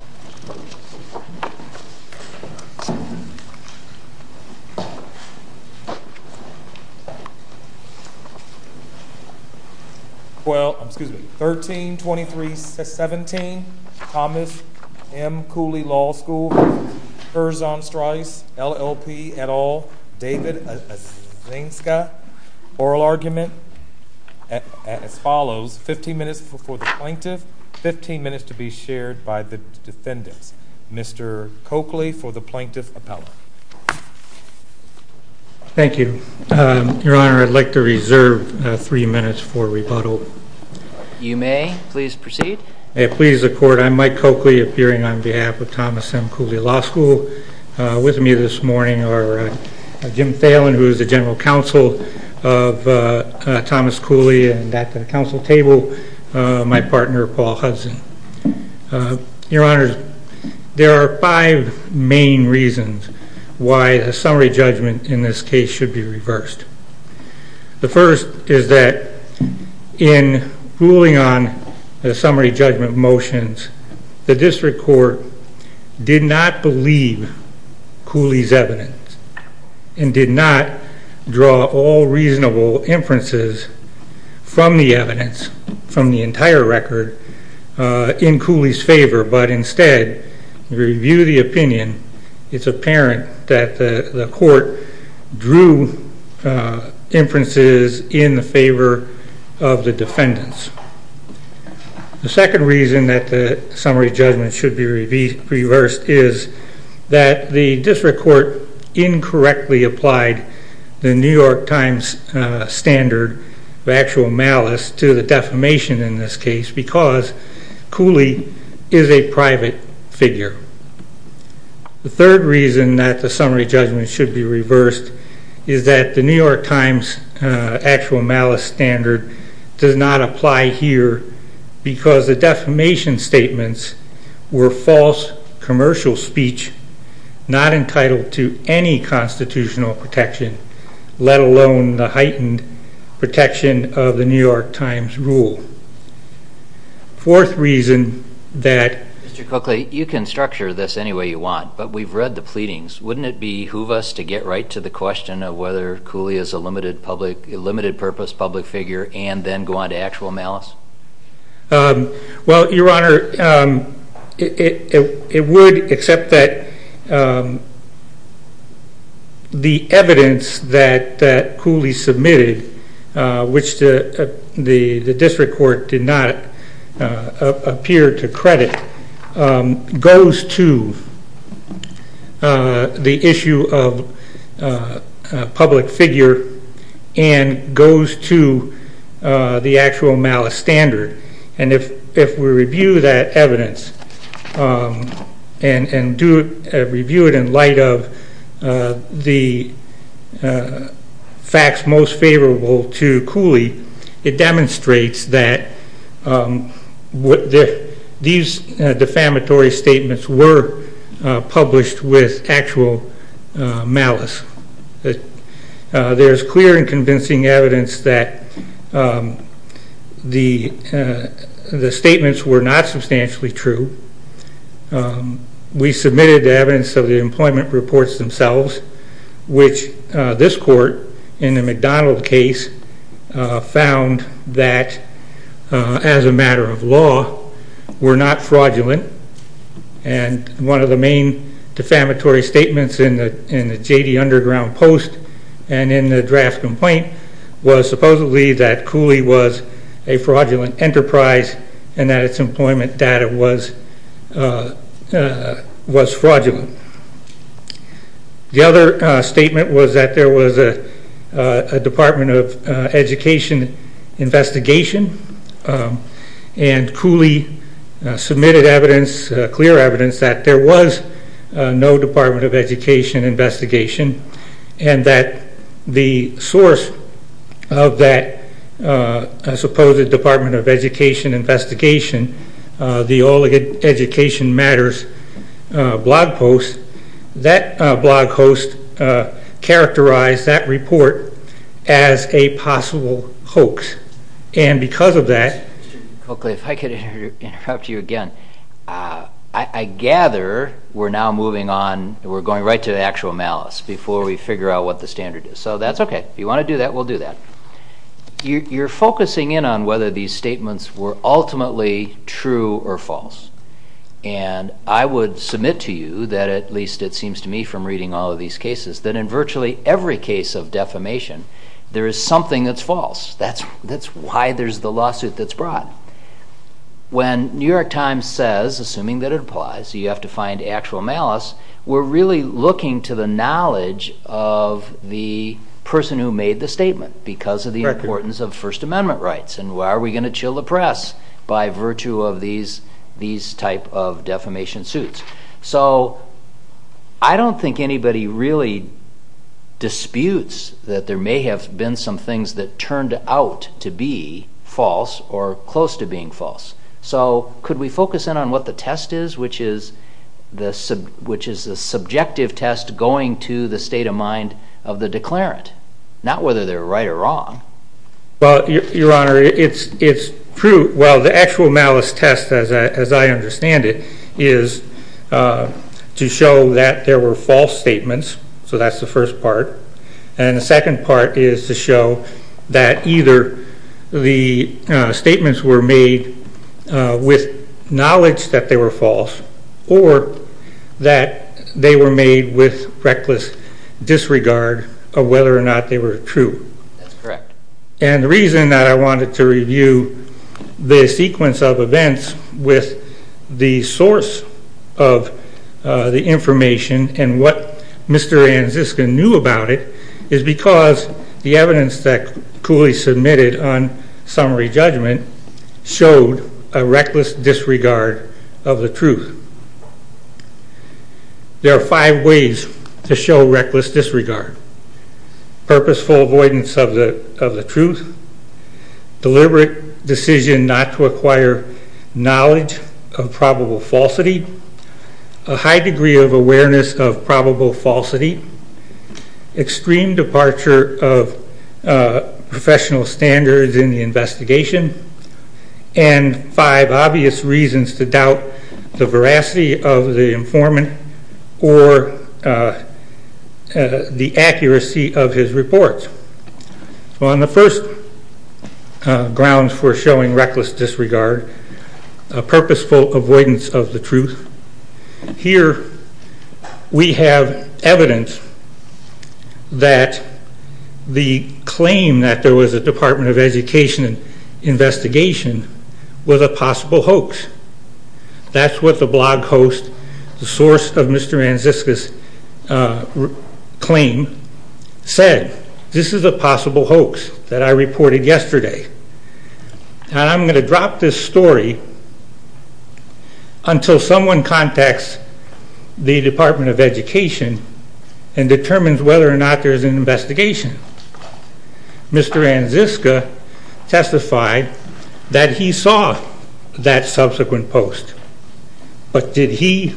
13-23-17 Thomas M. Cooley Law School Kurzon Strauss LLP et al. David Asinska Oral Argument 15 minutes for the plaintiff, 15 minutes to be shared by the defendants. Mr. Coakley for the plaintiff appellate. Thank you. Your Honor, I'd like to reserve three minutes for rebuttal. You may. Please proceed. May it please the Court, I'm Mike Coakley, appearing on behalf of Thomas M. Cooley Law School. With me this morning are Jim Thalen, who is the general counsel of Thomas Cooley, and at the council table, my partner Paul Hudson. Your Honor, there are five main reasons why a summary judgment in this case should be reversed. The first is that in ruling on the summary judgment motions, the district court did not believe Cooley's evidence, and did not draw all reasonable inferences from the evidence, from the entire record, in Cooley's favor, but instead, to review the opinion, it's apparent that the court drew inferences in favor of the defendants. The second reason that the summary judgment should be reversed is that the district court incorrectly applied the New York Times standard of actual malice to the defamation in this case, because Cooley is a private figure. The third reason that the summary judgment should be reversed is that the New York Times actual malice standard does not apply here, because the defamation statements were false commercial speech, not entitled to any constitutional protection, let alone the heightened protection of the New York Times rule. Fourth reason that- Mr. Cooley, you can structure this any way you want, but we've read the pleadings. Wouldn't it behoove us to get right to the question of whether Cooley is a limited purpose public figure, and then go on to actual malice? Well, Your Honor, it would, except that the evidence that Cooley submitted, which the district court did not appear to credit, goes to the issue of public figure and goes to the actual malice standard. And if we review that evidence and review it in light of the facts most favorable to Cooley, it demonstrates that these defamatory statements were published with actual malice. There's clear and convincing evidence that the statements were not substantially true. We submitted evidence of the employment reports themselves, which this court, in the McDonald case, found that, as a matter of law, were not fraudulent. And one of the main defamatory statements in the J.D. Underground Post and in the draft complaint was supposedly that Cooley was a fraudulent enterprise and that its employment data was fraudulent. The other statement was that there was a Department of Education investigation and Cooley submitted evidence, clear evidence, that there was no Department of Education investigation and that the source of that supposed Department of Education investigation, the All Education Matters blog post, that blog host characterized that report as a possible hoax and because of that... Mr. Cooley, if I could interrupt you again, I gather we're now moving on, we're going right to the actual malice before we figure out what the standard is. So that's okay. If you want to do that, we'll do that. You're focusing in on whether these statements were ultimately true or false. And I would submit to you that, at least it seems to me from reading all of these cases, that in virtually every case of defamation there is something that's false. That's why there's the lawsuit that's brought. When New York Times says, assuming that it applies, you have to find actual malice, we're really looking to the knowledge of the person who made the statement because of the importance of First Amendment rights and why are we going to chill the press by virtue of these type of defamation suits. So I don't think anybody really disputes that there may have been some things that turned out to be false or close to being false. So could we focus in on what the test is, which is the subjective test going to the state of mind of the declarant, not whether they're right or wrong. Well, Your Honor, it's true. Well, the actual malice test, as I understand it, is to show that there were false statements. So that's the first part. And the second part is to show that either the statements were made with knowledge that they were false or that they were made with reckless disregard of whether or not they were true. That's correct. And the reason that I wanted to review the sequence of events with the source of the information and what Mr. Anziskin knew about it is because the evidence that Cooley submitted on summary judgment showed a reckless disregard of the truth. There are five ways to show reckless disregard. Purposeful avoidance of the truth, deliberate decision not to acquire knowledge of probable falsity, a high degree of awareness of probable falsity, extreme departure of professional standards in the investigation, and five obvious reasons to doubt the veracity of the informant or the accuracy of his reports. So on the first grounds for showing reckless disregard, purposeful avoidance of the truth, here we have evidence that the claim that there was a Department of Education investigation was a possible hoax. That's what the blog host, the source of Mr. Anziskin's claim, said. This is a possible hoax that I reported yesterday. And I'm going to drop this story until someone contacts the Department of Education and determines whether or not there's an investigation. Mr. Anziskin testified that he saw that subsequent post, but did he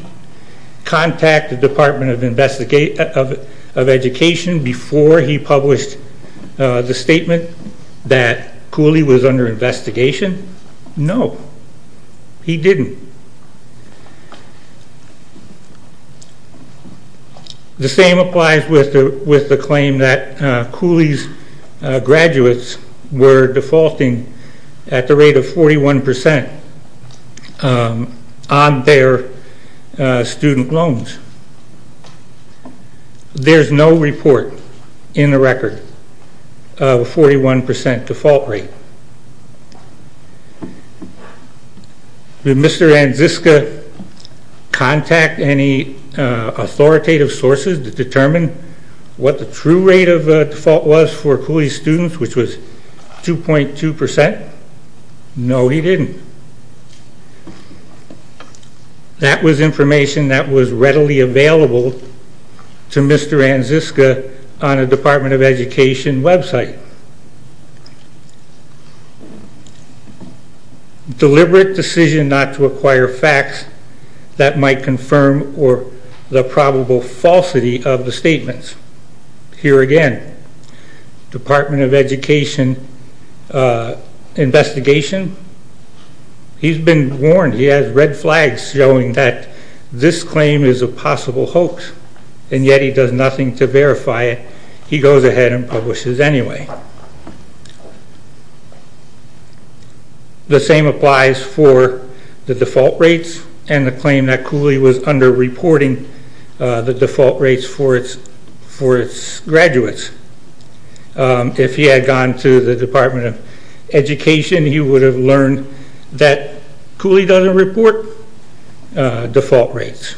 contact the Department of Education before he published the statement that Cooley was under investigation? No, he didn't. The same applies with the claim that Cooley's graduates were defaulting at the rate of 41% on their student loans. There's no report in the record of a 41% default rate. Did Mr. Anziskin contact any authoritative sources to determine what the true rate of default was for Cooley's students, which was 2.2%? No, he didn't. That was information that was readily available to Mr. Anziskin on a Department of Education website. Deliberate decision not to acquire facts that might confirm or the probable falsity of the statements. Here again, Department of Education investigation. He's been warned. He has red flags showing that this claim is a possible hoax, and yet he does nothing to verify it. He goes ahead and publishes anyway. The same applies for the default rates and the claim that Cooley was underreporting the default rates for its graduates. If he had gone to the Department of Education, he would have learned that Cooley doesn't report default rates.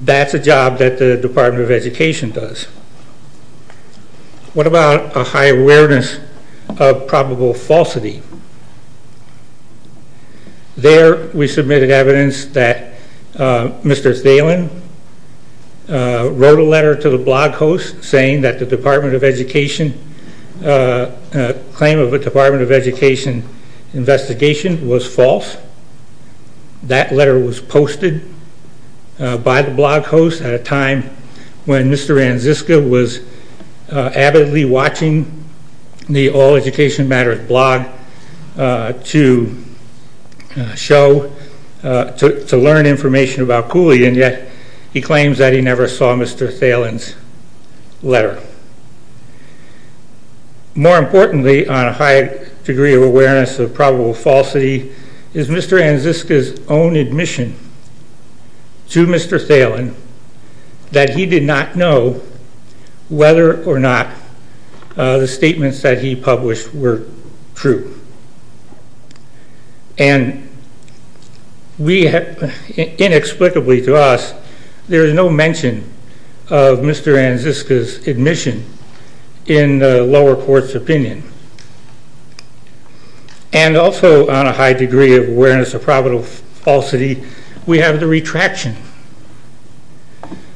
That's a job that the Department of Education does. What about a high awareness of probable falsity? There we submitted evidence that Mr. Thelen wrote a letter to the blog host saying that the Department of Education claim of a Department of Education investigation was false. That letter was posted by the blog host at a time when Mr. Anziskin was avidly watching the All Education Matters blog to learn information about Cooley, and yet he claims that he never saw Mr. Thelen's letter. More importantly on a high degree of awareness of probable falsity is Mr. Anziskin's own admission to Mr. Thelen that he did not know whether or not the statements that he published were true. And inexplicably to us, there is no mention of Mr. Anziskin's admission in the lower court's opinion. And also on a high degree of awareness of probable falsity, we have the retraction.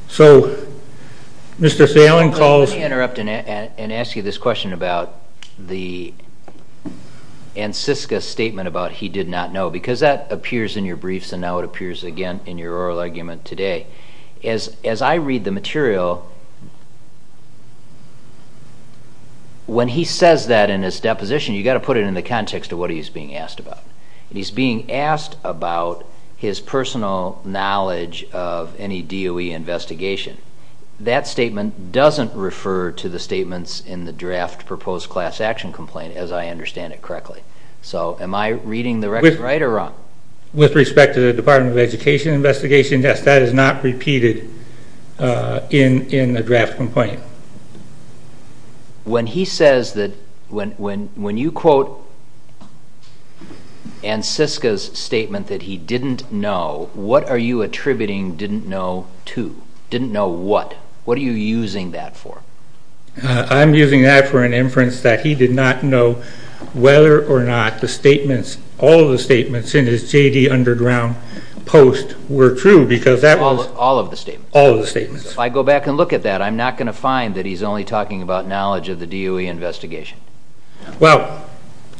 So Mr. Thelen calls... Let me interrupt and ask you this question about the Anziskin statement about he did not know because that appears in your briefs and now it appears again in your oral argument today. As I read the material, when he says that in his deposition, you got to put it in the context of what he's being asked about. He's being asked about his personal knowledge of any DOE investigation. That statement doesn't refer to the statements in the draft proposed class action complaint as I understand it correctly. So am I reading the record right or wrong? With respect to the Department of Education investigation, yes, that is not repeated in the draft complaint. When he says that... When you quote Anziskin's statement that he didn't know, what are you attributing didn't know to? Didn't know what? What are you using that for? I'm using that for an inference that he did not know whether or not the statements, all of the statements in his J.D. Underground post were true because that was... All of the statements? All of the statements. If I go back and look at that, I'm not going to find that he's only talking about knowledge of the DOE investigation. Well,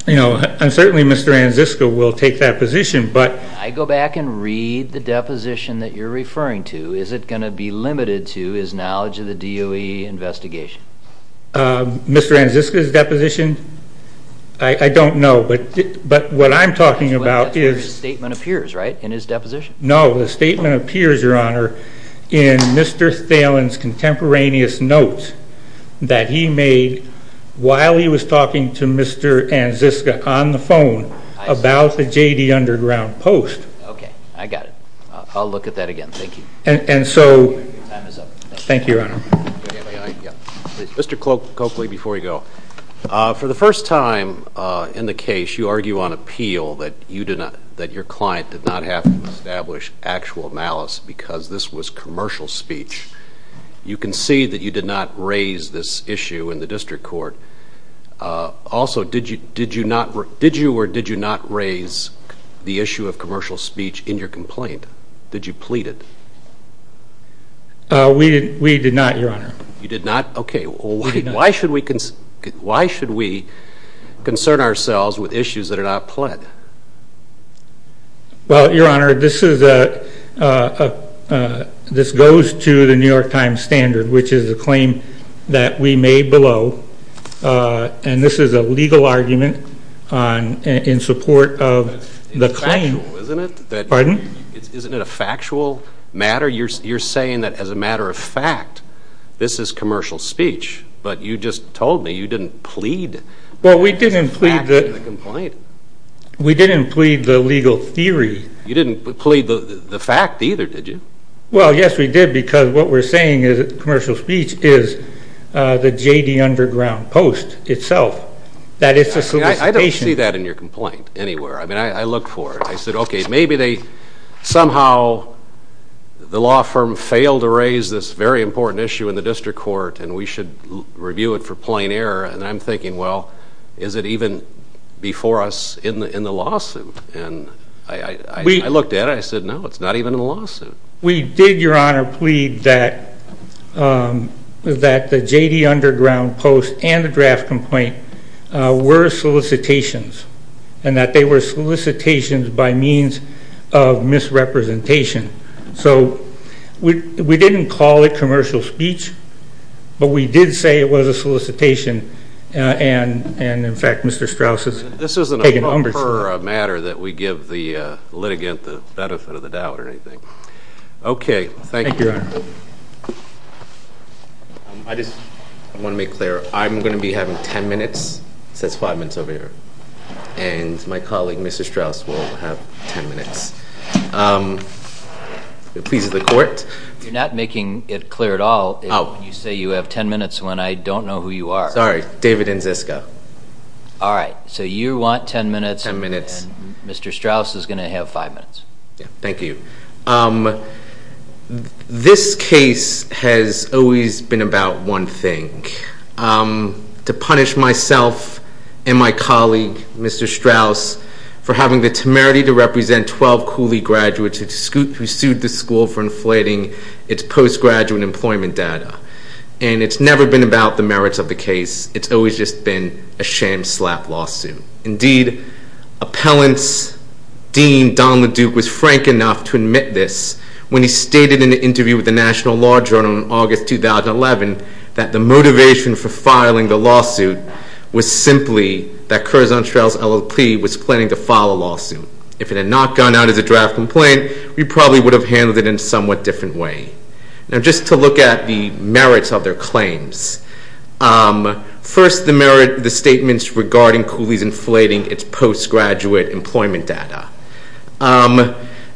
you know, and certainly Mr. Anziskin will take that position, but... I go back and read the deposition that you're referring to. Is it going to be limited to his knowledge of the DOE investigation? Mr. Anziskin's deposition, I don't know, but what I'm talking about is... That's where his statement appears, right, in his deposition. No, the statement appears, Your Honor, in Mr. Thalen's contemporaneous notes that he made while he was talking to Mr. Anziskin on the phone about the J.D. Underground post. Okay, I got it. I'll look at that again. Thank you. And so... Your time is up. Thank you, Your Honor. Mr. Coakley, before you go. For the first time in the case, you argue on appeal that your client did not have to establish actual malice because this was commercial speech. You concede that you did not raise this issue in the district court. Also, did you or did you not raise the issue of commercial speech in your complaint? Did you plead it? We did not, Your Honor. You did not? Okay, why should we concern ourselves with issues that are not pled? Well, Your Honor, this goes to the New York Times standard, which is a claim that we made below, and this is a legal argument in support of the claim. But it's factual, isn't it? Pardon? Isn't it a factual matter? You're saying that, as a matter of fact, this is commercial speech, but you just told me you didn't plead. Well, we didn't plead the legal theory. You didn't plead the fact either, did you? Well, yes, we did, because what we're saying is that commercial speech is the J.D. Underground Post itself. That it's a solicitation. I don't see that in your complaint anywhere. I mean, I look for it. I said, okay, maybe somehow the law firm failed to raise this very important issue in the district court, and we should review it for plain error. And I'm thinking, well, is it even before us in the lawsuit? And I looked at it and I said, no, it's not even in the lawsuit. We did, Your Honor, plead that the J.D. Underground Post and the draft complaint were solicitations, and that they were solicitations by means of misrepresentation. So we didn't call it commercial speech, but we did say it was a solicitation. And, in fact, Mr. Strauss has taken over. This isn't a proper matter that we give the litigant the benefit of the doubt or anything. Okay, thank you. Thank you, Your Honor. I just want to make clear. I'm going to be having ten minutes. It says five minutes over here. And my colleague, Mr. Strauss, will have ten minutes. It pleases the court. You're not making it clear at all. Oh. You say you have ten minutes when I don't know who you are. Sorry, David Nziska. All right, so you want ten minutes. Ten minutes. And Mr. Strauss is going to have five minutes. Thank you. This case has always been about one thing, to punish myself and my colleague, Mr. Strauss, for having the temerity to represent 12 Cooley graduates who sued the school for inflating its postgraduate employment data. And it's never been about the merits of the case. It's always just been a sham slap lawsuit. Indeed, appellant's dean, Donald Duke, was frank enough to admit this when he stated in an interview with the National Law Journal in August 2011 that the motivation for filing the lawsuit was simply that Curzon Strauss, LLP, was planning to file a lawsuit. If it had not gone out as a draft complaint, we probably would have handled it in a somewhat different way. Now, just to look at the merits of their claims. First, the statements regarding Cooley's inflating its postgraduate employment data.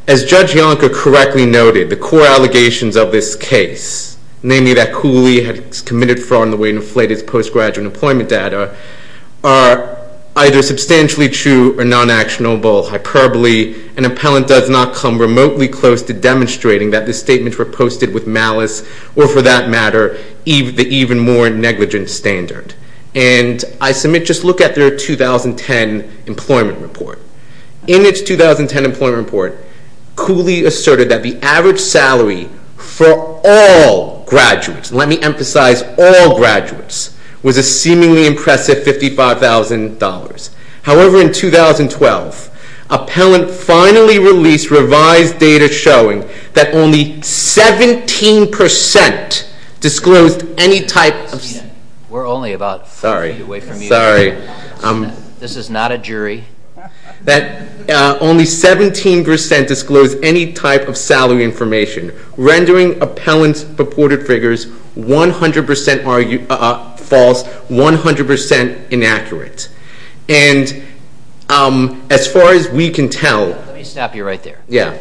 As Judge Yonker correctly noted, the core allegations of this case, namely that Cooley had committed fraud in the way it inflated its postgraduate employment data, are either substantially true or non-actionable, hyperbole, and appellant does not come remotely close to demonstrating that the statements were posted with malice or, for that matter, the even more negligent standard. And I submit, just look at their 2010 employment report. In its 2010 employment report, Cooley asserted that the average salary for all graduates, let me emphasize all graduates, was a seemingly impressive $55,000. However, in 2012, appellant finally released revised data showing that only 17% disclosed any type of... We're only about 40 feet away from you. Sorry. This is not a jury. That only 17% disclosed any type of salary information, rendering appellant's purported figures 100% false, 100% inaccurate. And as far as we can tell... Let me stop you right there. Yeah.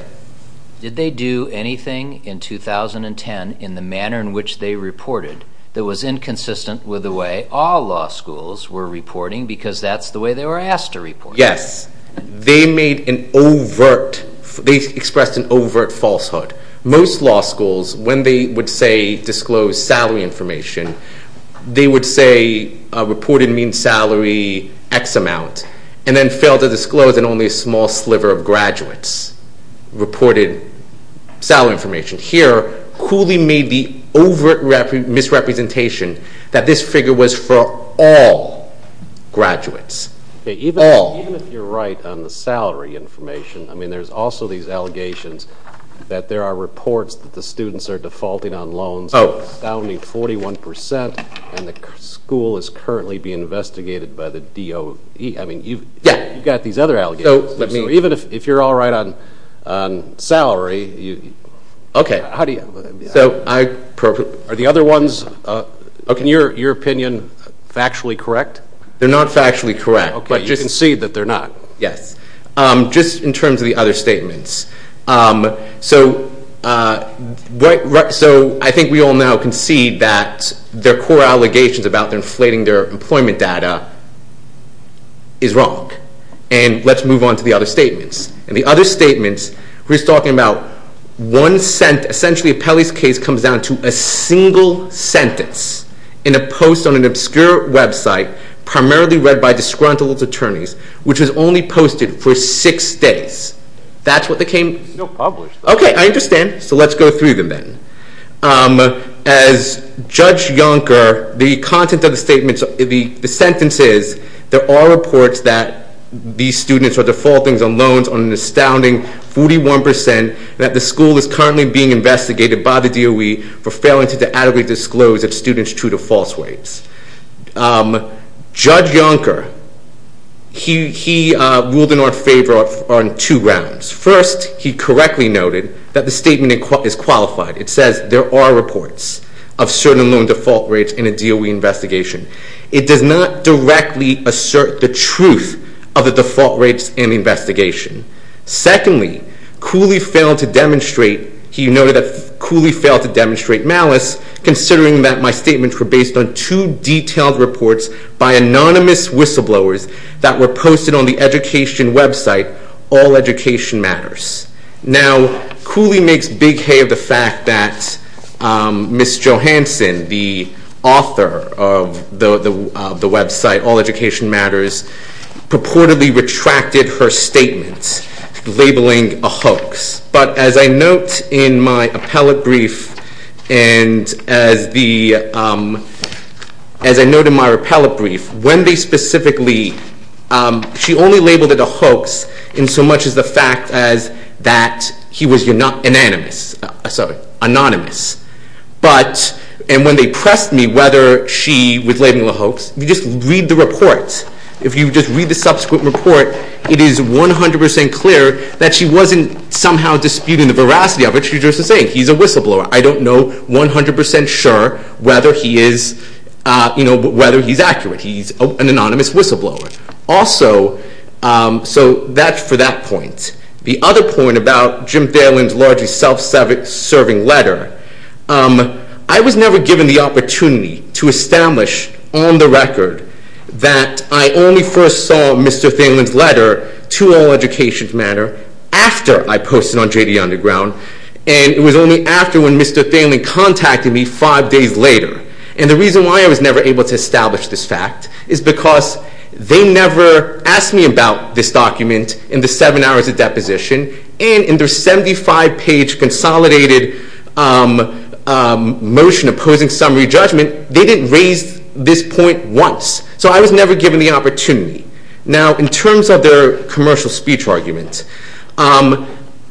Did they do anything in 2010 in the manner in which they reported that was inconsistent with the way all law schools were reporting because that's the way they were asked to report? Yes. They made an overt... They expressed an overt falsehood. Most law schools, when they would say disclose salary information, they would say reported mean salary X amount and then failed to disclose that only a small sliver of graduates reported salary information. Here, Cooley made the overt misrepresentation that this figure was for all graduates. All. Even if you're right on the salary information, there's also these allegations that there are reports that the students are defaulting on loans with an astounding 41% and the school is currently being investigated by the DOE. I mean, you've got these other allegations. So even if you're all right on salary, how do you... So I... Are the other ones, in your opinion, factually correct? They're not factually correct, but you can see that they're not. Yes. Just in terms of the other statements. So I think we all now can see that their core allegations about inflating their employment data is wrong. And let's move on to the other statements. In the other statements, we're just talking about one... Essentially, Peli's case comes down to a single sentence in a post on an obscure website, primarily read by disgruntled attorneys, which was only posted for six days. That's what they came... No, published. Okay, I understand. So let's go through them then. As Judge Yonker, the content of the statements, the sentences, there are reports that these students are defaulting on loans on an astounding 41% and that the school is currently being investigated by the DOE for failing to adequately disclose its students true to false weights. Judge Yonker, he ruled in our favor on two grounds. First, he correctly noted that the statement is qualified. It says there are reports of certain loan default rates in a DOE investigation. It does not directly assert the truth of the default rates in the investigation. Secondly, Cooley failed to demonstrate... He noted that Cooley failed to demonstrate malice, considering that my statements were based on two detailed reports by anonymous whistleblowers that were posted on the education website, All Education Matters. Now, Cooley makes big hay of the fact that Ms. Johanson, the author of the website, All Education Matters, but as I note in my appellate brief and as the... As I note in my appellate brief, when they specifically... She only labeled it a hoax in so much as the fact that he was anonymous. And when they pressed me whether she was labeling it a hoax, you just read the report. If you just read the subsequent report, it is 100% clear that she wasn't somehow disputing the veracity of it. She's just saying he's a whistleblower. I don't know 100% sure whether he is accurate. He's an anonymous whistleblower. Also, so that's for that point. The other point about Jim Thelen's largely self-serving letter, I was never given the opportunity to establish on the record that I only first saw Mr. Thelen's letter to All Education Matters after I posted on JD Underground, and it was only after when Mr. Thelen contacted me five days later. And the reason why I was never able to establish this fact is because they never asked me about this document in the seven hours of deposition, and in their 75-page consolidated motion opposing summary judgment, they didn't raise this point once. So I was never given the opportunity. Now, in terms of their commercial speech argument,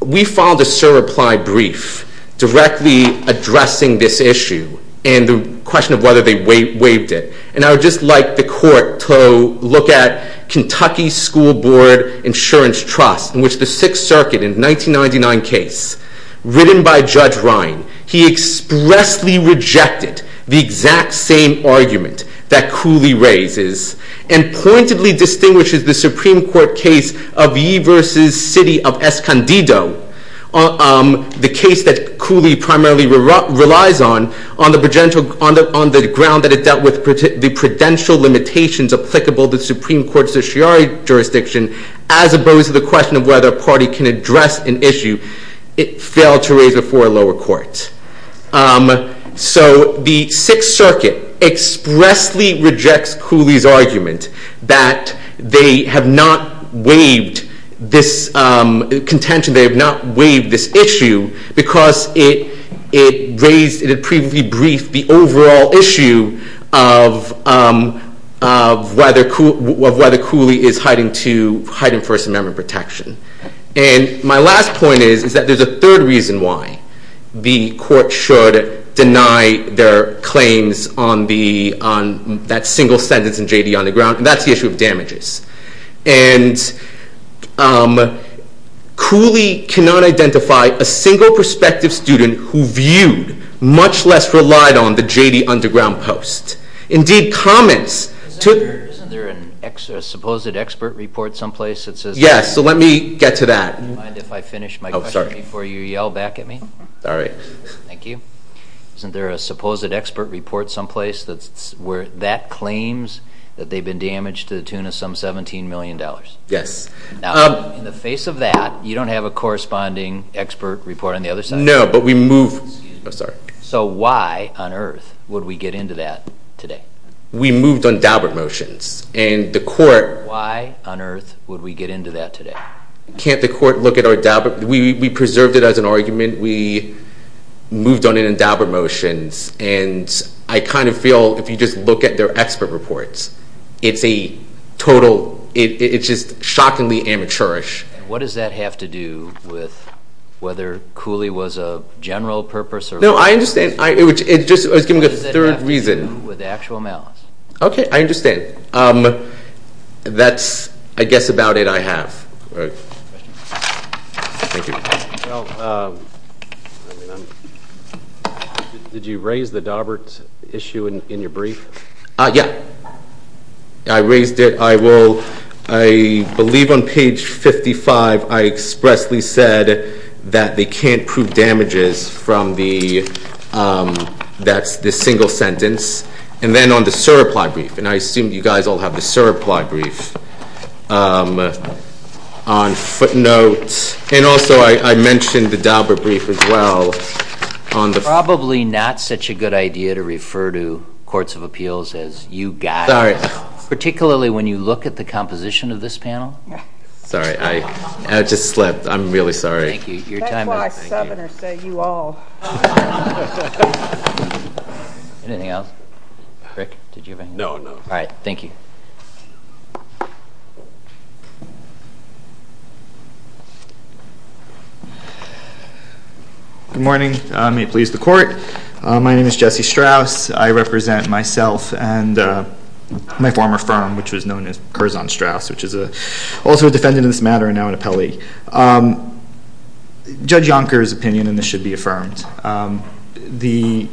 we filed a sur-applied brief directly addressing this issue and the question of whether they waived it. And I would just like the court to look at Kentucky School Board Insurance Trust, in which the Sixth Circuit in a 1999 case written by Judge Ryan, he expressly rejected the exact same argument that Cooley raises and pointedly distinguishes the Supreme Court case of Yee v. City of Escondido, the case that Cooley primarily relies on, on the ground that it dealt with the prudential limitations applicable to the Supreme Court's certiorari jurisdiction, as opposed to the question of whether a party can address an issue it failed to raise before a lower court. So the Sixth Circuit expressly rejects Cooley's argument that they have not waived this contention, they have not waived this issue, because it raised, it had previously briefed the overall issue of whether Cooley is hiding First Amendment protection. And my last point is that there's a third reason why the court should deny their claims on that single sentence in J.D. Underground, and that's the issue of damages. And Cooley cannot identify a single prospective student who viewed, much less relied on, the J.D. Underground post. Indeed, comments... Isn't there a supposed expert report someplace that says... Yes, so let me get to that. Mind if I finish my question before you yell back at me? All right. Thank you. Isn't there a supposed expert report someplace where that claims that they've been damaged to the tune of some $17 million? Yes. Now, in the face of that, you don't have a corresponding expert report on the other side? No, but we move... So why on earth would we get into that today? We moved on Daubert motions, and the court... Can't the court look at our Daubert... We preserved it as an argument. We moved on it in Daubert motions, and I kind of feel if you just look at their expert reports, it's a total... It's just shockingly amateurish. What does that have to do with whether Cooley was a general purpose or... No, I understand. I was giving a third reason. What does that have to do with actual malice? Okay, I understand. That's, I guess, about it I have. All right. Thank you. Well, did you raise the Daubert issue in your brief? Yeah, I raised it. I will. I believe on page 55 I expressly said that they can't prove damages from the... That's the single sentence. And then on the sir reply brief, and I assume you guys all have the sir reply brief on footnotes, and also I mentioned the Daubert brief as well on the... Probably not such a good idea to refer to courts of appeals as you guys. Sorry. Particularly when you look at the composition of this panel. Sorry. I just slipped. I'm really sorry. Thank you. Your time is up. That's why seveners say you all. Anything else? Rick, did you have anything? No, no. All right. Thank you. Good morning. May it please the court. My name is Jesse Strauss. I represent myself and my former firm, which was known as Berzon Strauss, which is also a defendant in this matter and now an appellee. Judge Yonker's opinion, and this should be affirmed, the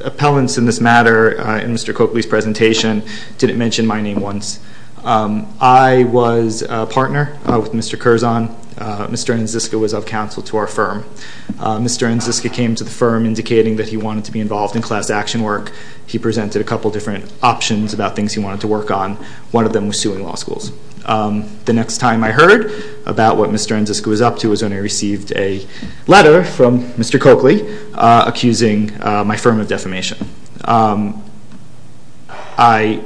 appellants in this matter in Mr. Coakley's presentation didn't mention my name once. I was a partner with Mr. Curzon. Mr. Anziska was of counsel to our firm. Mr. Anziska came to the firm indicating that he wanted to be involved in class action work. He presented a couple different options about things he wanted to work on. One of them was suing law schools. The next time I heard about what Mr. Anziska was up to was when I received a letter from Mr. Coakley accusing my firm of defamation. I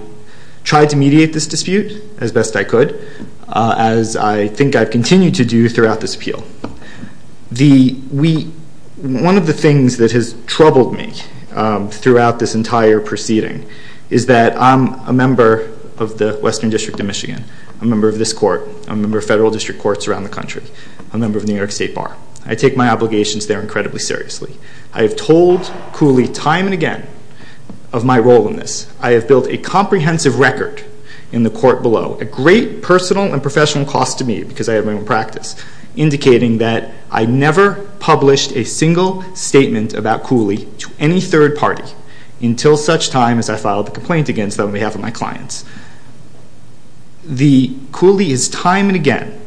tried to mediate this dispute as best I could, as I think I've continued to do throughout this appeal. One of the things that has troubled me throughout this entire proceeding is that I'm a member of the Western District of Michigan. I'm a member of this court. I'm a member of federal district courts around the country. I'm a member of the New York State Bar. I take my obligations there incredibly seriously. I have told Cooley time and again of my role in this. I have built a comprehensive record in the court below, a great personal and professional cost to me because I have my own practice, indicating that I never published a single statement about Cooley to any third party until such time as I filed a complaint against them on behalf of my clients. Cooley has time and again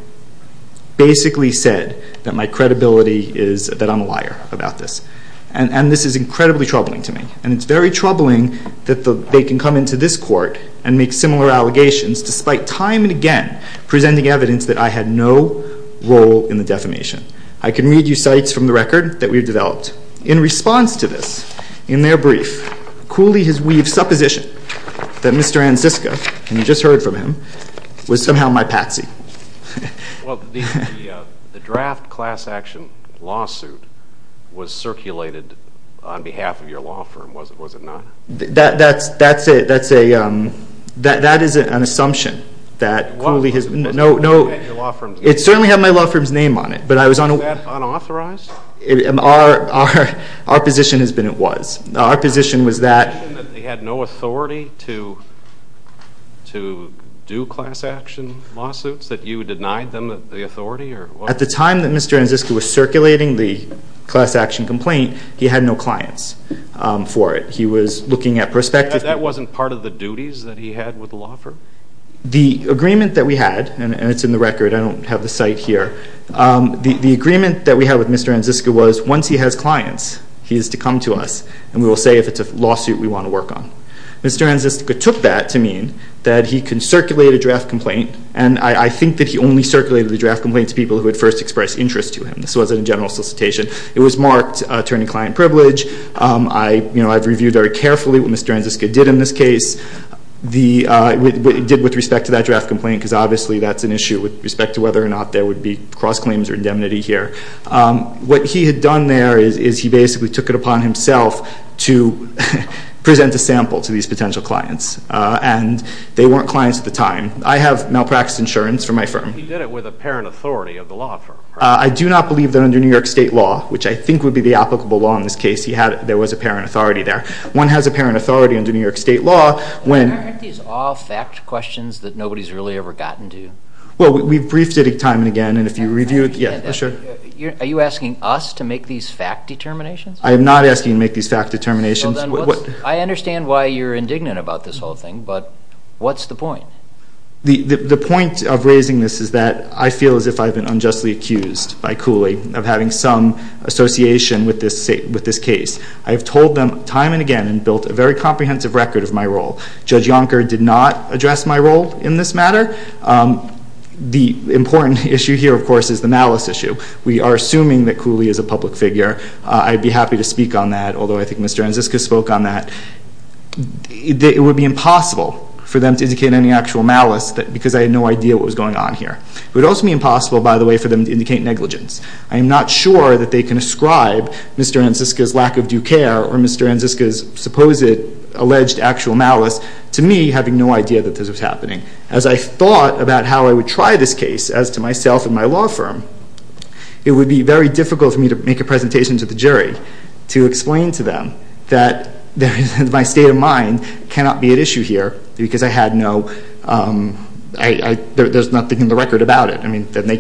basically said that I'm a liar about this, and this is incredibly troubling to me. And it's very troubling that they can come into this court and make similar allegations despite time and again presenting evidence that I had no role in the defamation. I can read you sites from the record that we've developed. In response to this, in their brief, Cooley has weaved supposition that Mr. Ansicca, and you just heard from him, was somehow my patsy. Well, the draft class action lawsuit was circulated on behalf of your law firm, was it not? That is an assumption that Cooley has made. It certainly had my law firm's name on it. Was that unauthorized? Our position has been it was. Our position was that they had no authority to do class action lawsuits, that you denied them the authority? At the time that Mr. Ansicca was circulating the class action complaint, he had no clients for it. He was looking at prospective. That wasn't part of the duties that he had with the law firm? The agreement that we had, and it's in the record, I don't have the site here. The agreement that we had with Mr. Ansicca was once he has clients, he is to come to us, and we will say if it's a lawsuit we want to work on. Mr. Ansicca took that to mean that he can circulate a draft complaint, and I think that he only circulated the draft complaint to people who had first expressed interest to him. This wasn't a general solicitation. It was marked attorney-client privilege. I've reviewed very carefully what Mr. Ansicca did in this case, what he did with respect to that draft complaint, because obviously that's an issue with respect to whether or not there would be cross-claims or indemnity here. What he had done there is he basically took it upon himself to present a sample to these potential clients, and they weren't clients at the time. I have malpractice insurance for my firm. He did it with apparent authority of the law firm, correct? I do not believe that under New York State law, which I think would be the applicable law in this case, there was apparent authority there. One has apparent authority under New York State law when— Aren't these all fact questions that nobody's really ever gotten to? Well, we've briefed it time and again, and if you review it— Yeah, sure. Are you asking us to make these fact determinations? I am not asking you to make these fact determinations. I understand why you're indignant about this whole thing, but what's the point? The point of raising this is that I feel as if I've been unjustly accused by Cooley of having some association with this case. I have told them time and again and built a very comprehensive record of my role. Judge Yonker did not address my role in this matter. The important issue here, of course, is the malice issue. We are assuming that Cooley is a public figure. I'd be happy to speak on that, although I think Mr. Anziska spoke on that. It would be impossible for them to indicate any actual malice because I had no idea what was going on here. It would also be impossible, by the way, for them to indicate negligence. I am not sure that they can ascribe Mr. Anziska's lack of due care or Mr. Anziska's supposed alleged actual malice to me having no idea that this was happening. As I thought about how I would try this case as to myself and my law firm, it would be very difficult for me to make a presentation to the jury to explain to them that my state of mind cannot be at issue here because there's nothing in the record about it.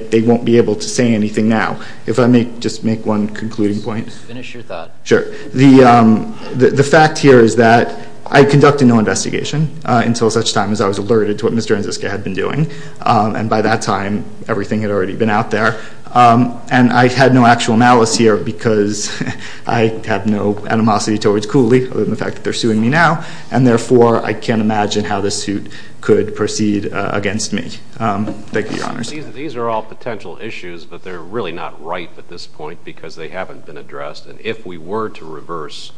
They won't be able to say anything now. If I may just make one concluding point. Just finish your thought. Sure. The fact here is that I conducted no investigation until such time as I was alerted to what Mr. Anziska had been doing, and by that time everything had already been out there, and I had no actual malice here because I have no animosity towards Cooley other than the fact that they're suing me now, and therefore I can't imagine how this suit could proceed against me. Thank you, Your Honors. These are all potential issues, but they're really not ripe at this point because they haven't been addressed, and if we were to reverse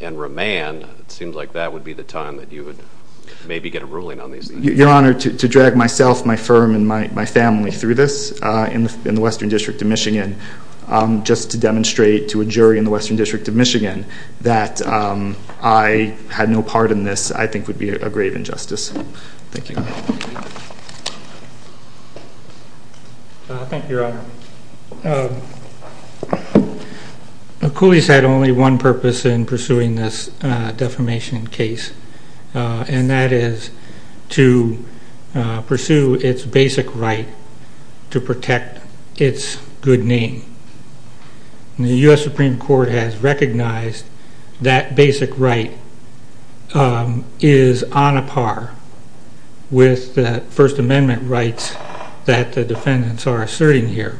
and remand, it seems like that would be the time that you would maybe get a ruling on these things. Your Honor, to drag myself, my firm, and my family through this in the Western District of Michigan just to demonstrate to a jury in the Western District of Michigan that I had no part in this I think would be a grave injustice. Thank you. Thank you, Your Honor. Cooley's had only one purpose in pursuing this defamation case, and that is to pursue its basic right to protect its good name. The U.S. Supreme Court has recognized that basic right is on a par with the First Amendment rights that the defendants are asserting here.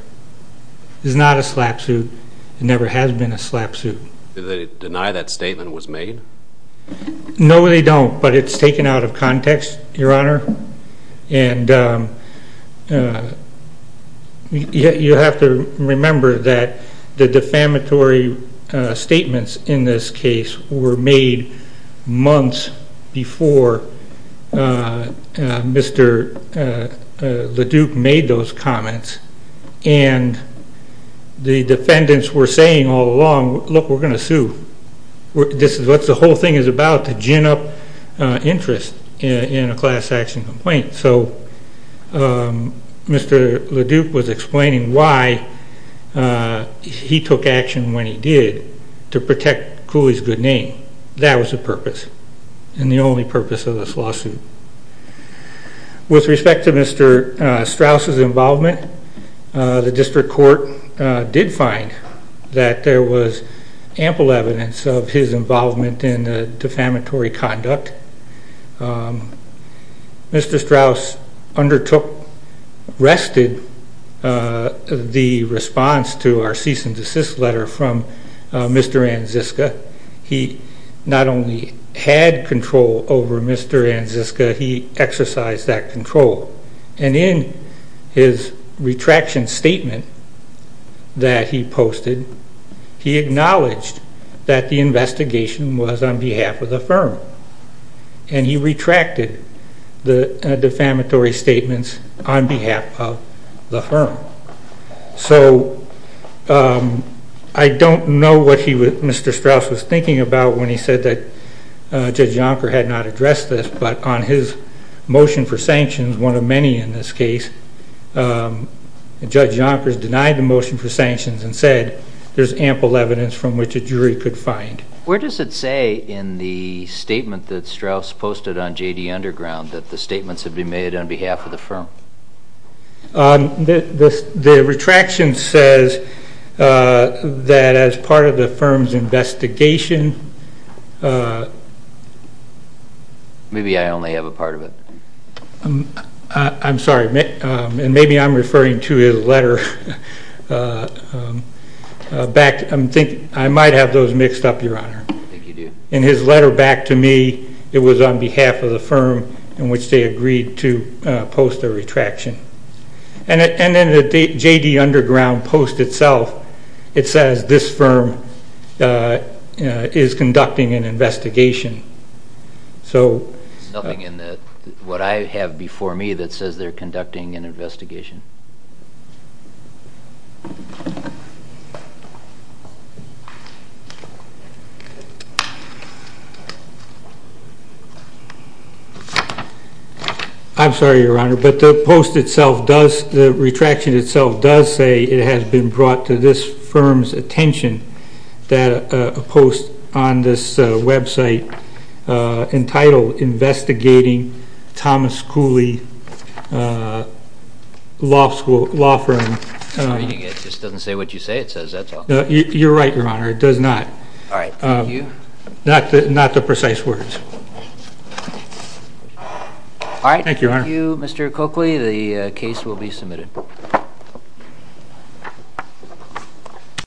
It's not a slap suit. It never has been a slap suit. Do they deny that statement was made? No, they don't, but it's taken out of context, Your Honor, and you have to remember that the defamatory statements in this case were made months before Mr. LaDuke made those comments, and the defendants were saying all along, look, we're going to sue. This is what the whole thing is about, to gin up interest in a class action complaint. So Mr. LaDuke was explaining why he took action when he did to protect Cooley's good name. That was the purpose and the only purpose of this lawsuit. With respect to Mr. Strauss' involvement, the district court did find that there was ample evidence of his involvement in defamatory conduct. Mr. Strauss undertook, rested the response to our cease and desist letter from Mr. Anziska. He not only had control over Mr. Anziska, he exercised that control, and in his retraction statement that he posted, he acknowledged that the investigation was on behalf of the firm, and he retracted the defamatory statements on behalf of the firm. So I don't know what Mr. Strauss was thinking about when he said that Judge Yonker had not addressed this, but on his motion for sanctions, one of many in this case, Judge Yonker denied the motion for sanctions and said there's ample evidence from which a jury could find. Where does it say in the statement that Strauss posted on J.D. Underground that the statements have been made on behalf of the firm? The retraction says that as part of the firm's investigation. Maybe I only have a part of it. I'm sorry, and maybe I'm referring to his letter. I might have those mixed up, Your Honor. I think you do. In his letter back to me, it was on behalf of the firm in which they agreed to post a retraction. And in the J.D. Underground post itself, it says this firm is conducting an investigation. There's nothing in what I have before me that says they're conducting an investigation. I'm sorry, Your Honor, but the post itself does, the retraction itself does say it has been brought to this firm's attention that a post on this website entitled Investigating Thomas Cooley Law Firm. It just doesn't say what you say. It says that's all. You're right, Your Honor. It does not. All right. Thank you. Not the precise words. All right. Thank you, Your Honor. Thank you, Mr. Coakley. The case will be submitted.